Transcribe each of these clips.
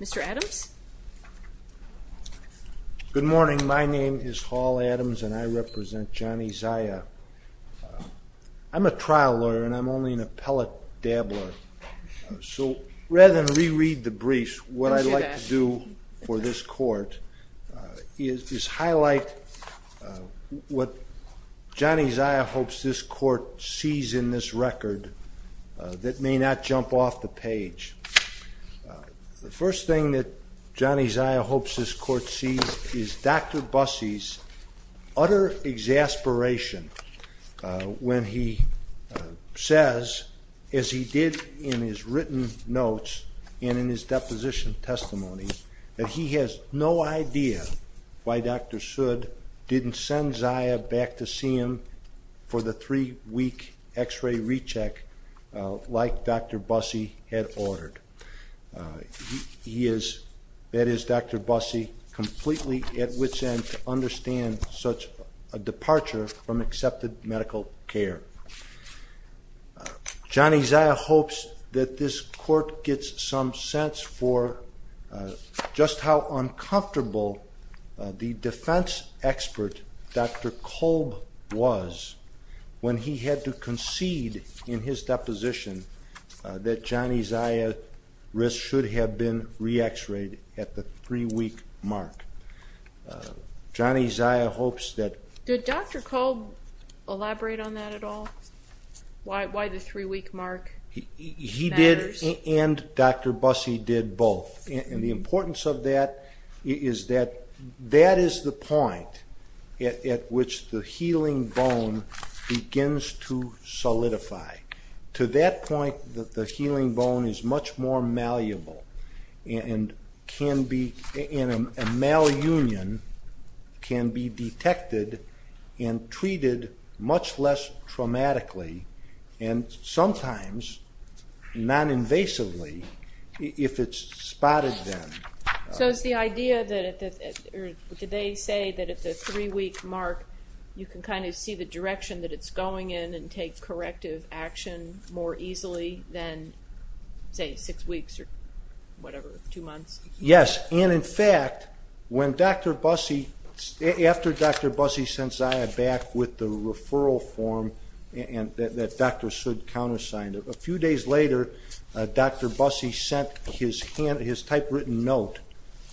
Mr. Adams? Good morning, my name is Hall Adams and I represent Joni Zaya. I'm a trial lawyer and I'm only an appellate DAB lawyer. So rather than re-read the briefs, what I'd like to do for this court is highlight what Joni Zaya hopes this court sees in this record that may not jump off the page. The first thing that Joni Zaya hopes this court sees is Dr. Busse's utter exasperation when he says, as he did in his written notes and in his that he has no idea why Dr. Sood didn't send Zaya back to see him for the three week x-ray recheck like Dr. Busse had ordered. That is Dr. Busse completely at wit's end to understand such a departure from accepted medical care. Joni Zaya hopes that this court gets some sense for just how uncomfortable the defense expert Dr. Kolb was when he had to concede in his deposition that Joni Zaya's wrist should have been re-x-rayed at the three week mark. Joni Zaya hopes that... Did Dr. Kolb elaborate on that at all? Why the three week mark? He did and Dr. Busse did both. The importance of that is that that is the point at which the healing bone begins to solidify. To that point the healing bone is much more malleable and a malunion can be detected and treated much less traumatically and sometimes non-invasively if it's spotted then. So it's the idea that at the three week mark you can kind of see the direction that it's going in and take corrective action more easily than say six weeks or two months. Yes and in fact when Dr. Busse, after Dr. Busse sends Zaya back with the referral form that Dr. Sood countersigned, a few days later Dr. Busse sent his typewritten note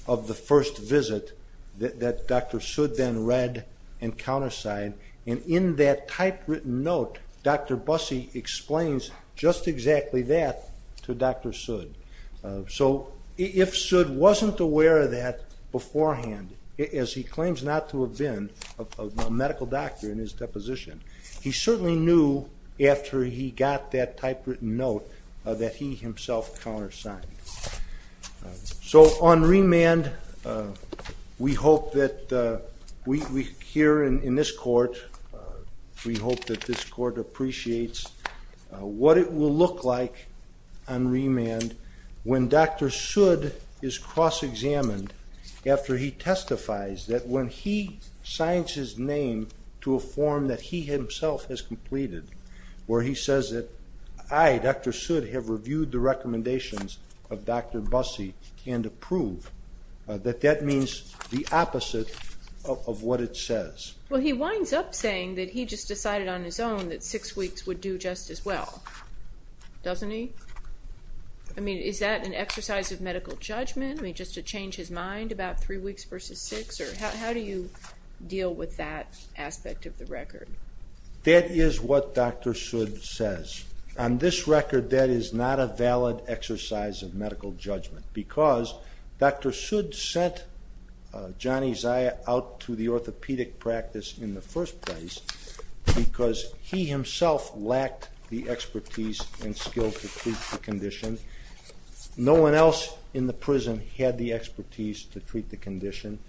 of the first visit that Dr. Sood then read and countersigned and in that typewritten note Dr. Busse explains just exactly that to Dr. Sood. So if Sood wasn't aware of that beforehand as he claims not to have been a medical doctor in his deposition, he certainly knew after he got that typewritten note that he himself countersigned. So on remand we hope that we here in this court we hope that this court appreciates what it will look like on remand when Dr. Sood is cross-examined after he testifies that when he signs his name to a form that he himself has completed where he says that I, Dr. Sood, have reviewed the recommendations of Dr. Busse and approve that that means the opposite of what it says. Well he winds up saying that he just decided on his own that six weeks would do just as well, doesn't he? I mean is that an exercise of medical judgment? I mean just to change his mind about three weeks versus six or how do you deal with that aspect of the record? That is what Dr. Sood says. On this record that is not a valid exercise of medical judgment because Dr. Sood sent Johnny Zia out to the orthopedic practice in the first place because he himself lacked the expertise and skill to treat the condition. No one else in the prison had the expertise to treat the condition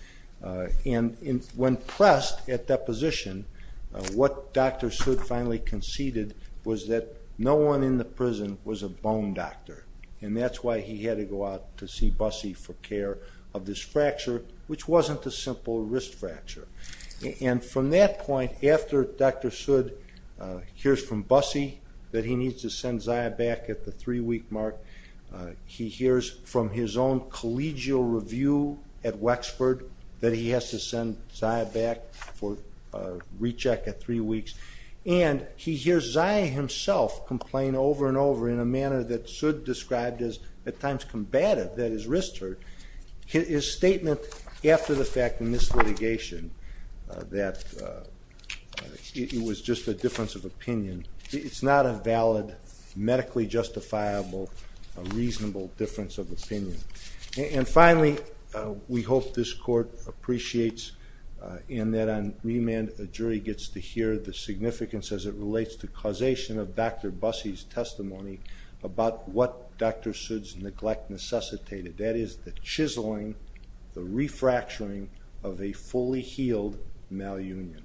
and when pressed at deposition what Dr. Sood finally conceded was that no one in the prison was a bone doctor and that's why he had to go out to see Busse for care of this fracture which wasn't a simple wrist fracture. And from that point after Dr. Sood hears from Busse that he needs to send Zia back at the three-week mark, he hears from his own collegial review at Wexford that he has to send Zia back for a recheck at three weeks, and he hears Zia himself complain over and over in a manner that Sood described as at times combative, that his wrist hurt. His statement after the fact in this litigation that it was just a difference of opinion. It's not a valid medically justifiable, a reasonable difference of opinion. And finally we hope this court appreciates and that on remand a jury gets to hear the significance as it relates to causation of Dr. Busse's testimony about what Dr. Sood's neglect necessitated, that is the chiseling, the refracturing of a fully healed malunion.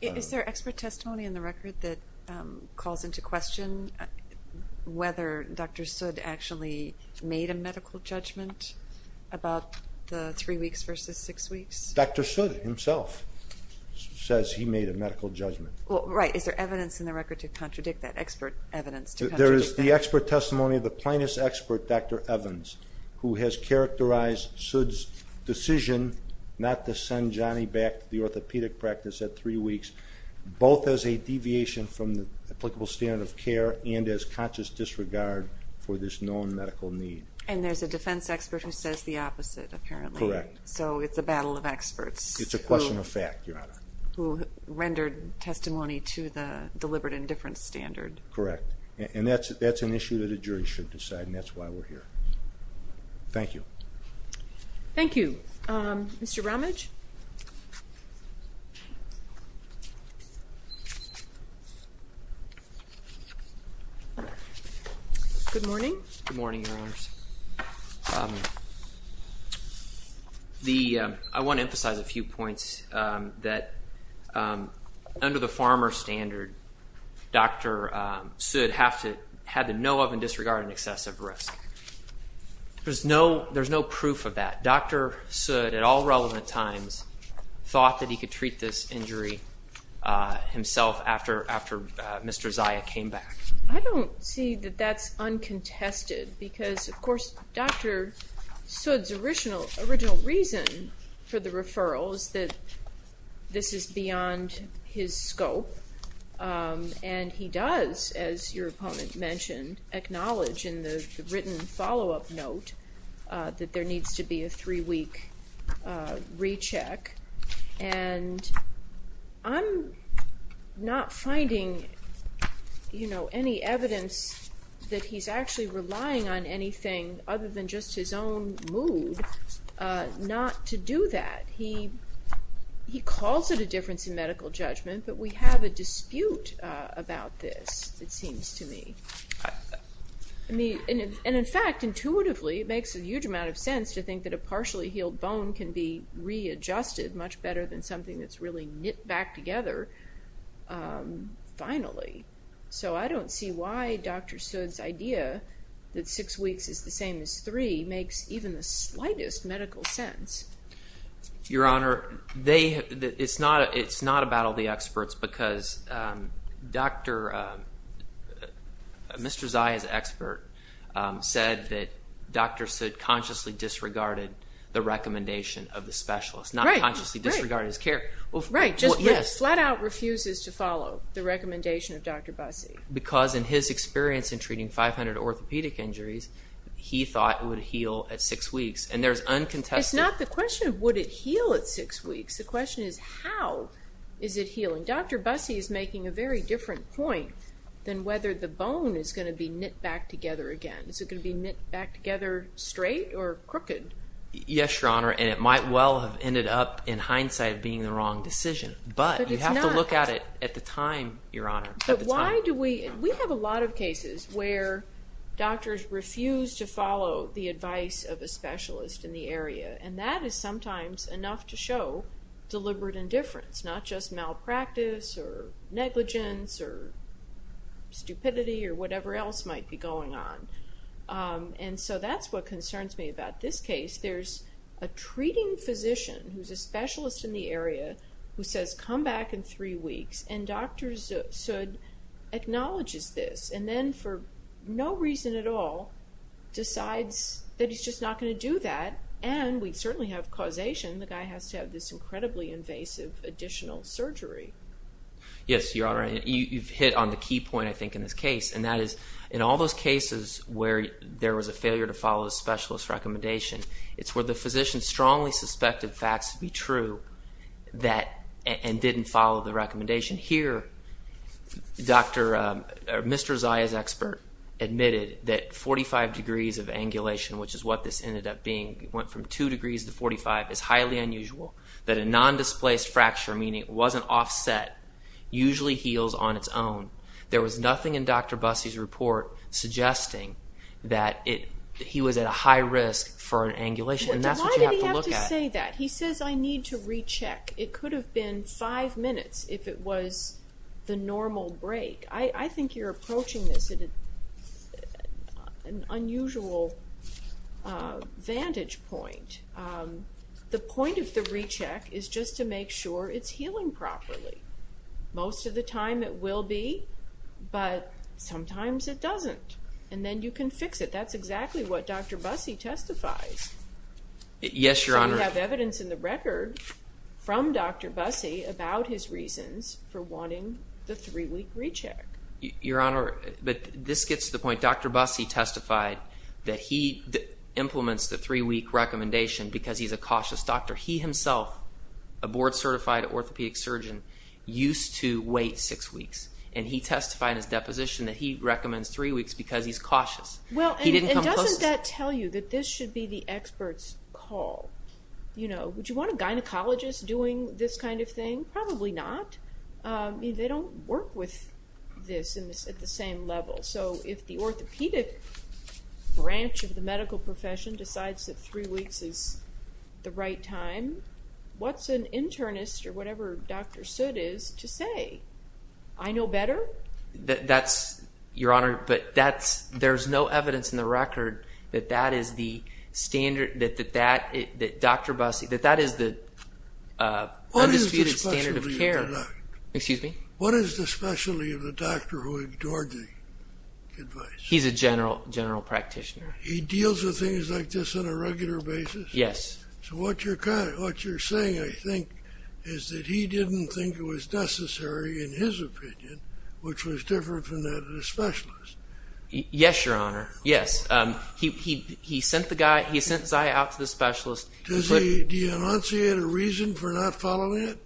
Is there expert testimony in the record that calls into question whether Dr. Sood actually made a medical judgment about the three weeks versus six weeks? Dr. Sood himself says he made a medical judgment. Well right, is there evidence in the record to contradict that expert evidence? There is the expert testimony of plaintiff's expert, Dr. Evans, who has characterized Sood's decision not to send Johnny back to the orthopedic practice at three weeks, both as a deviation from the applicable standard of care and as conscious disregard for this known medical need. And there's a defense expert who says the opposite apparently. Correct. So it's a battle of experts. It's a question of fact, Your Honor. Who rendered testimony to the deliberate indifference standard. Correct. And that's an issue that a jury should decide and that's why we're here. Thank you. Thank you. Mr. Romage. Good morning. Good morning, Your Honors. I want to emphasize a few points that under the had to know of and disregard an excessive risk. There's no proof of that. Dr. Sood, at all relevant times, thought that he could treat this injury himself after Mr. Zia came back. I don't see that that's uncontested because of course Dr. Sood's original reason for the acknowledge in the written follow-up note that there needs to be a three-week recheck. And I'm not finding, you know, any evidence that he's actually relying on anything other than just his own mood not to do that. He calls it a difference in medical judgment, but we have a dispute about this, it seems to me. And in fact, intuitively, it makes a huge amount of sense to think that a partially healed bone can be readjusted much better than something that's really knit back together finally. So I don't see why Dr. Sood's idea that six weeks is the same as three makes even the slightest medical sense. Your Honor, it's not a battle of the experts because Mr. Zia's expert said that Dr. Sood consciously disregarded the recommendation of the specialist, not consciously disregarded his care. Right, just flat out refuses to follow the recommendation of Dr. Busse. Because in his experience in treating 500 orthopedic injuries, he thought it would heal at six weeks. And there's uncontested... It's not the question of would it heal at six weeks, the question is how is it healing? Dr. Busse is making a very different point than whether the bone is going to be knit back together again. Is it going to be knit back together straight or crooked? Yes, Your Honor, and it might well have ended up in hindsight being the wrong decision, but you have to look at it at the time, Your Honor. But why do we... We have a lot of cases where doctors refuse to follow the advice of a specialist in the area, and that is sometimes enough to show deliberate indifference, not just malpractice or negligence or stupidity or whatever else might be going on. And so that's what concerns me about this case. There's a treating physician who's a specialist in the area who says come back in three weeks, and Dr. Sood acknowledges this, and then for no reason at all decides that he's just not going to have causation. The guy has to have this incredibly invasive additional surgery. Yes, Your Honor, and you've hit on the key point, I think, in this case, and that is in all those cases where there was a failure to follow the specialist recommendation, it's where the physician strongly suspected facts to be true and didn't follow the recommendation. Here, Mr. Zia's expert admitted that 45 degrees of angulation, which is what this ended up being, went from two degrees to 45, is highly unusual, that a non-displaced fracture, meaning it wasn't offset, usually heals on its own. There was nothing in Dr. Bussey's report suggesting that he was at a high risk for an angulation, and that's what you have to look at. Why did he have to say that? He says I need to recheck. It could have been five minutes if it was the normal break. I think you're approaching this at an unusual vantage point. The point of the recheck is just to make sure it's healing properly. Most of the time it will be, but sometimes it doesn't, and then you can fix it. That's exactly what Dr. Bussey testifies. Yes, Your Honor. You have evidence in the record from Dr. Bussey about his reasons for wanting the three-week recheck. Your Honor, but this gets to the point. Dr. Bussey testified that he implements the three-week recommendation because he's a cautious doctor. He himself, a board-certified orthopedic surgeon, used to wait six weeks, and he testified in his deposition that he recommends three weeks because he's cautious. He didn't come close. Doesn't that tell you that this should be the expert's call? Would you want a gynecologist doing this kind of thing? Probably not. They don't work with this at the same level. If the orthopedic branch of the medical profession decides that three weeks is the right time, what's an internist or whatever Dr. Soot is to say, I know better? That's, Your Honor, but there's no evidence in the record that that is the standard, that Dr. Bussey, that that is the undisputed standard of care. Excuse me? What is the specialty of the doctor who ignored the advice? He's a general practitioner. He deals with things like this on a regular basis? Yes. So what you're saying, I think, is that he didn't think it was necessary, in his opinion, which was different from that of a specialist. Do you enunciate a reason for not following it?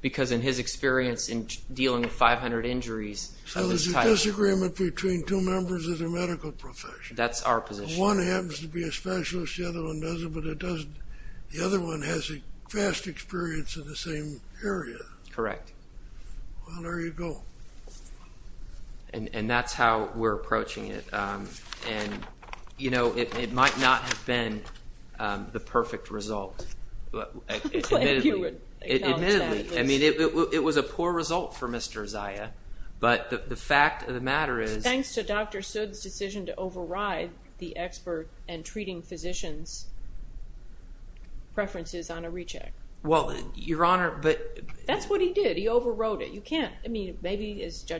Because in his experience in dealing with 500 injuries... So there's a disagreement between two members of the medical profession. That's our position. One happens to be a specialist, the other one doesn't, but the other one has vast experience in the same area. Correct. Well, there you go. And that's how we're approaching it. And, you know, it might not have been the perfect result. Admittedly, I mean, it was a poor result for Mr. Uzziah, but the fact of the matter is... Thanks to Dr. Soot's decision to override the expert and treating physicians' preferences on a recheck. Well, Your Honor, but... Judge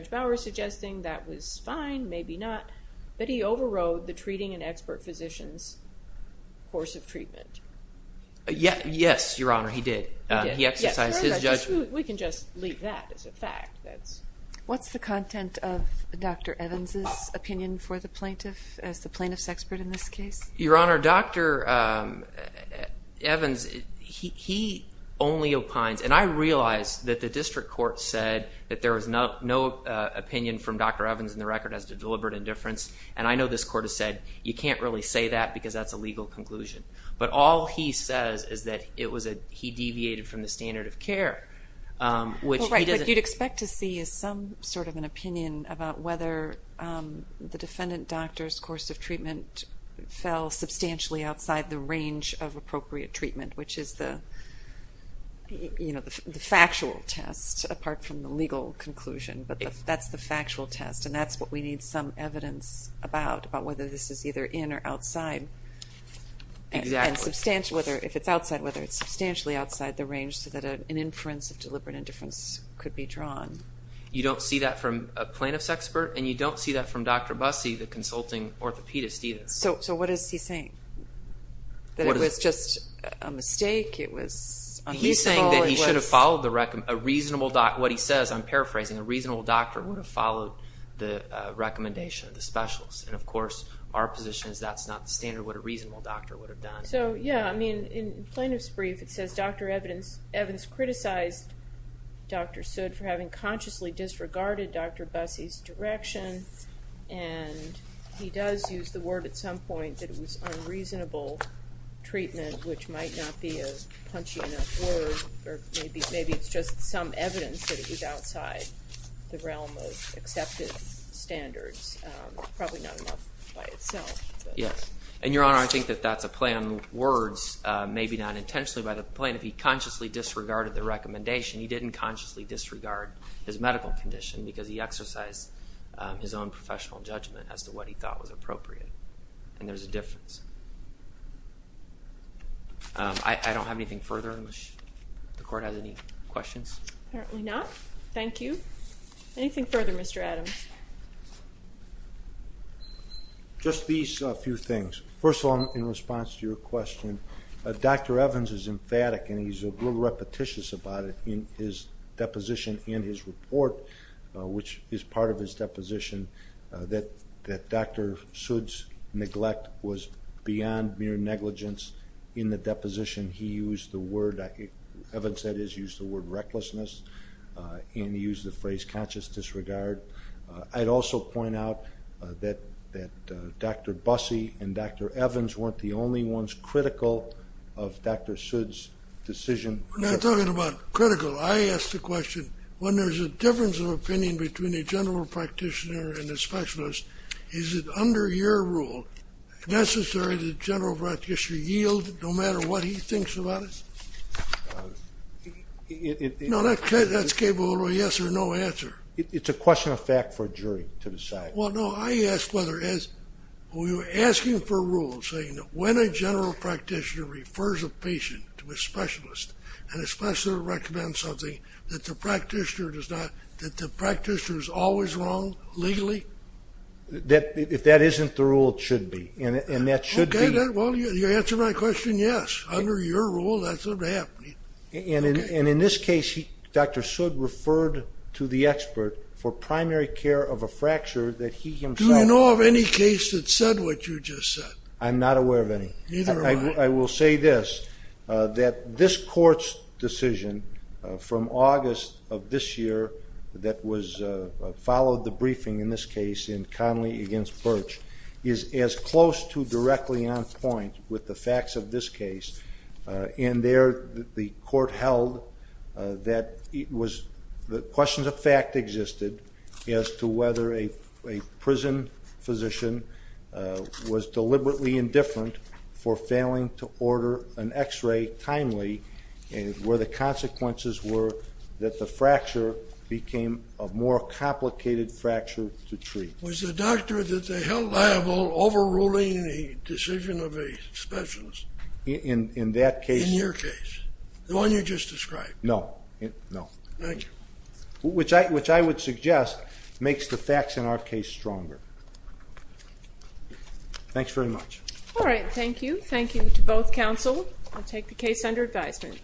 Bauer is suggesting that was fine, maybe not, but he overrode the treating and expert physicians' course of treatment. Yes, Your Honor, he did. He exercised his judgment. We can just leave that as a fact. What's the content of Dr. Evans' opinion for the plaintiff, as the plaintiff's expert in this case? Your Honor, Dr. Evans, he only opines... And I realize that the district court said that there was no opinion from Dr. Evans in the record as to deliberate indifference. And I know this court has said, you can't really say that because that's a legal conclusion. But all he says is that he deviated from the standard of care. Well, right, but you'd expect to see some sort of an opinion about whether the defendant doctor's course of treatment fell substantially outside the range of appropriate treatment, which is the, you know, the factual test, apart from the legal conclusion. But that's the factual test. And that's what we need some evidence about, about whether this is either in or outside. Exactly. And substantial, whether if it's outside, whether it's substantially outside the range so that an inference of deliberate indifference could be drawn. You don't see that from a plaintiff's expert, and you don't see that from Dr. Bussey, the consulting orthopedist, either. So what is he saying? That it was just a mistake? It was unethical? He's saying that he should have followed a reasonable doctor. What he says, I'm paraphrasing, a reasonable doctor would have followed the recommendation of the specialists. And of course, our position is that's not the standard what a reasonable doctor would have done. So, yeah, I mean, in plaintiff's brief, it says, Dr. Evans criticized Dr. Sood for having consciously disregarded Dr. Bussey's direction. And he does use the word at some point that it was unreasonable treatment, which might not be a punchy enough word, or maybe it's just some evidence that it was outside the realm of accepted standards. Probably not enough by itself. Yes. And, Your Honor, I think that that's a play on words, maybe not intentionally by the plaintiff. He consciously disregarded the recommendation. He didn't consciously disregard his medical condition because he exercised his own professional judgment as to what he thought was appropriate. And there's a difference. I don't have anything further. The court has any questions? Apparently not. Thank you. Anything further, Mr. Adams? Just these few things. First of all, in response to your question, Dr. Evans is emphatic and he's a little repetitious about it in his deposition in his report. Which is part of his deposition that Dr. Sood's neglect was beyond mere negligence. In the deposition, he used the word, Evans said he used the word recklessness and used the phrase conscious disregard. I'd also point out that Dr. Busse and Dr. Evans weren't the only ones critical of Dr. Sood's decision. We're not talking about critical. I asked the question, when there's a difference of opinion between a general practitioner and a specialist, is it under your rule necessary the general practitioner yield no matter what he thinks about it? No, that's capable of a yes or no answer. It's a question of fact for a jury to decide. Well, no, I asked whether as we were asking for rules saying that when a general practitioner refers a patient to a specialist and a specialist recommends something that the practitioner is always wrong legally? If that isn't the rule, it should be. Well, you answered my question, yes. Under your rule, that's what's happening. And in this case, Dr. Sood referred to the expert for primary care of a fracture that he himself... Do you know of any case that said what you just said? I'm not aware of any. Neither am I. I will say this, that this court's decision from August of this year that followed the briefing in this case in Connolly against Birch is as close to directly on point with the facts of this case. And there, the court held that it was... The question of fact existed as to whether a prison physician was deliberately indifferent for failing to order an X-ray timely where the consequences were that the fracture became a more complicated fracture to treat. Was the doctor that they held liable overruling the decision of a specialist? In that case? In your case, the one you just described. No, no. Thank you. Which I would suggest makes the facts in our case stronger. Thanks very much. All right, thank you. Thank you to both counsel. I'll take the case under advisement.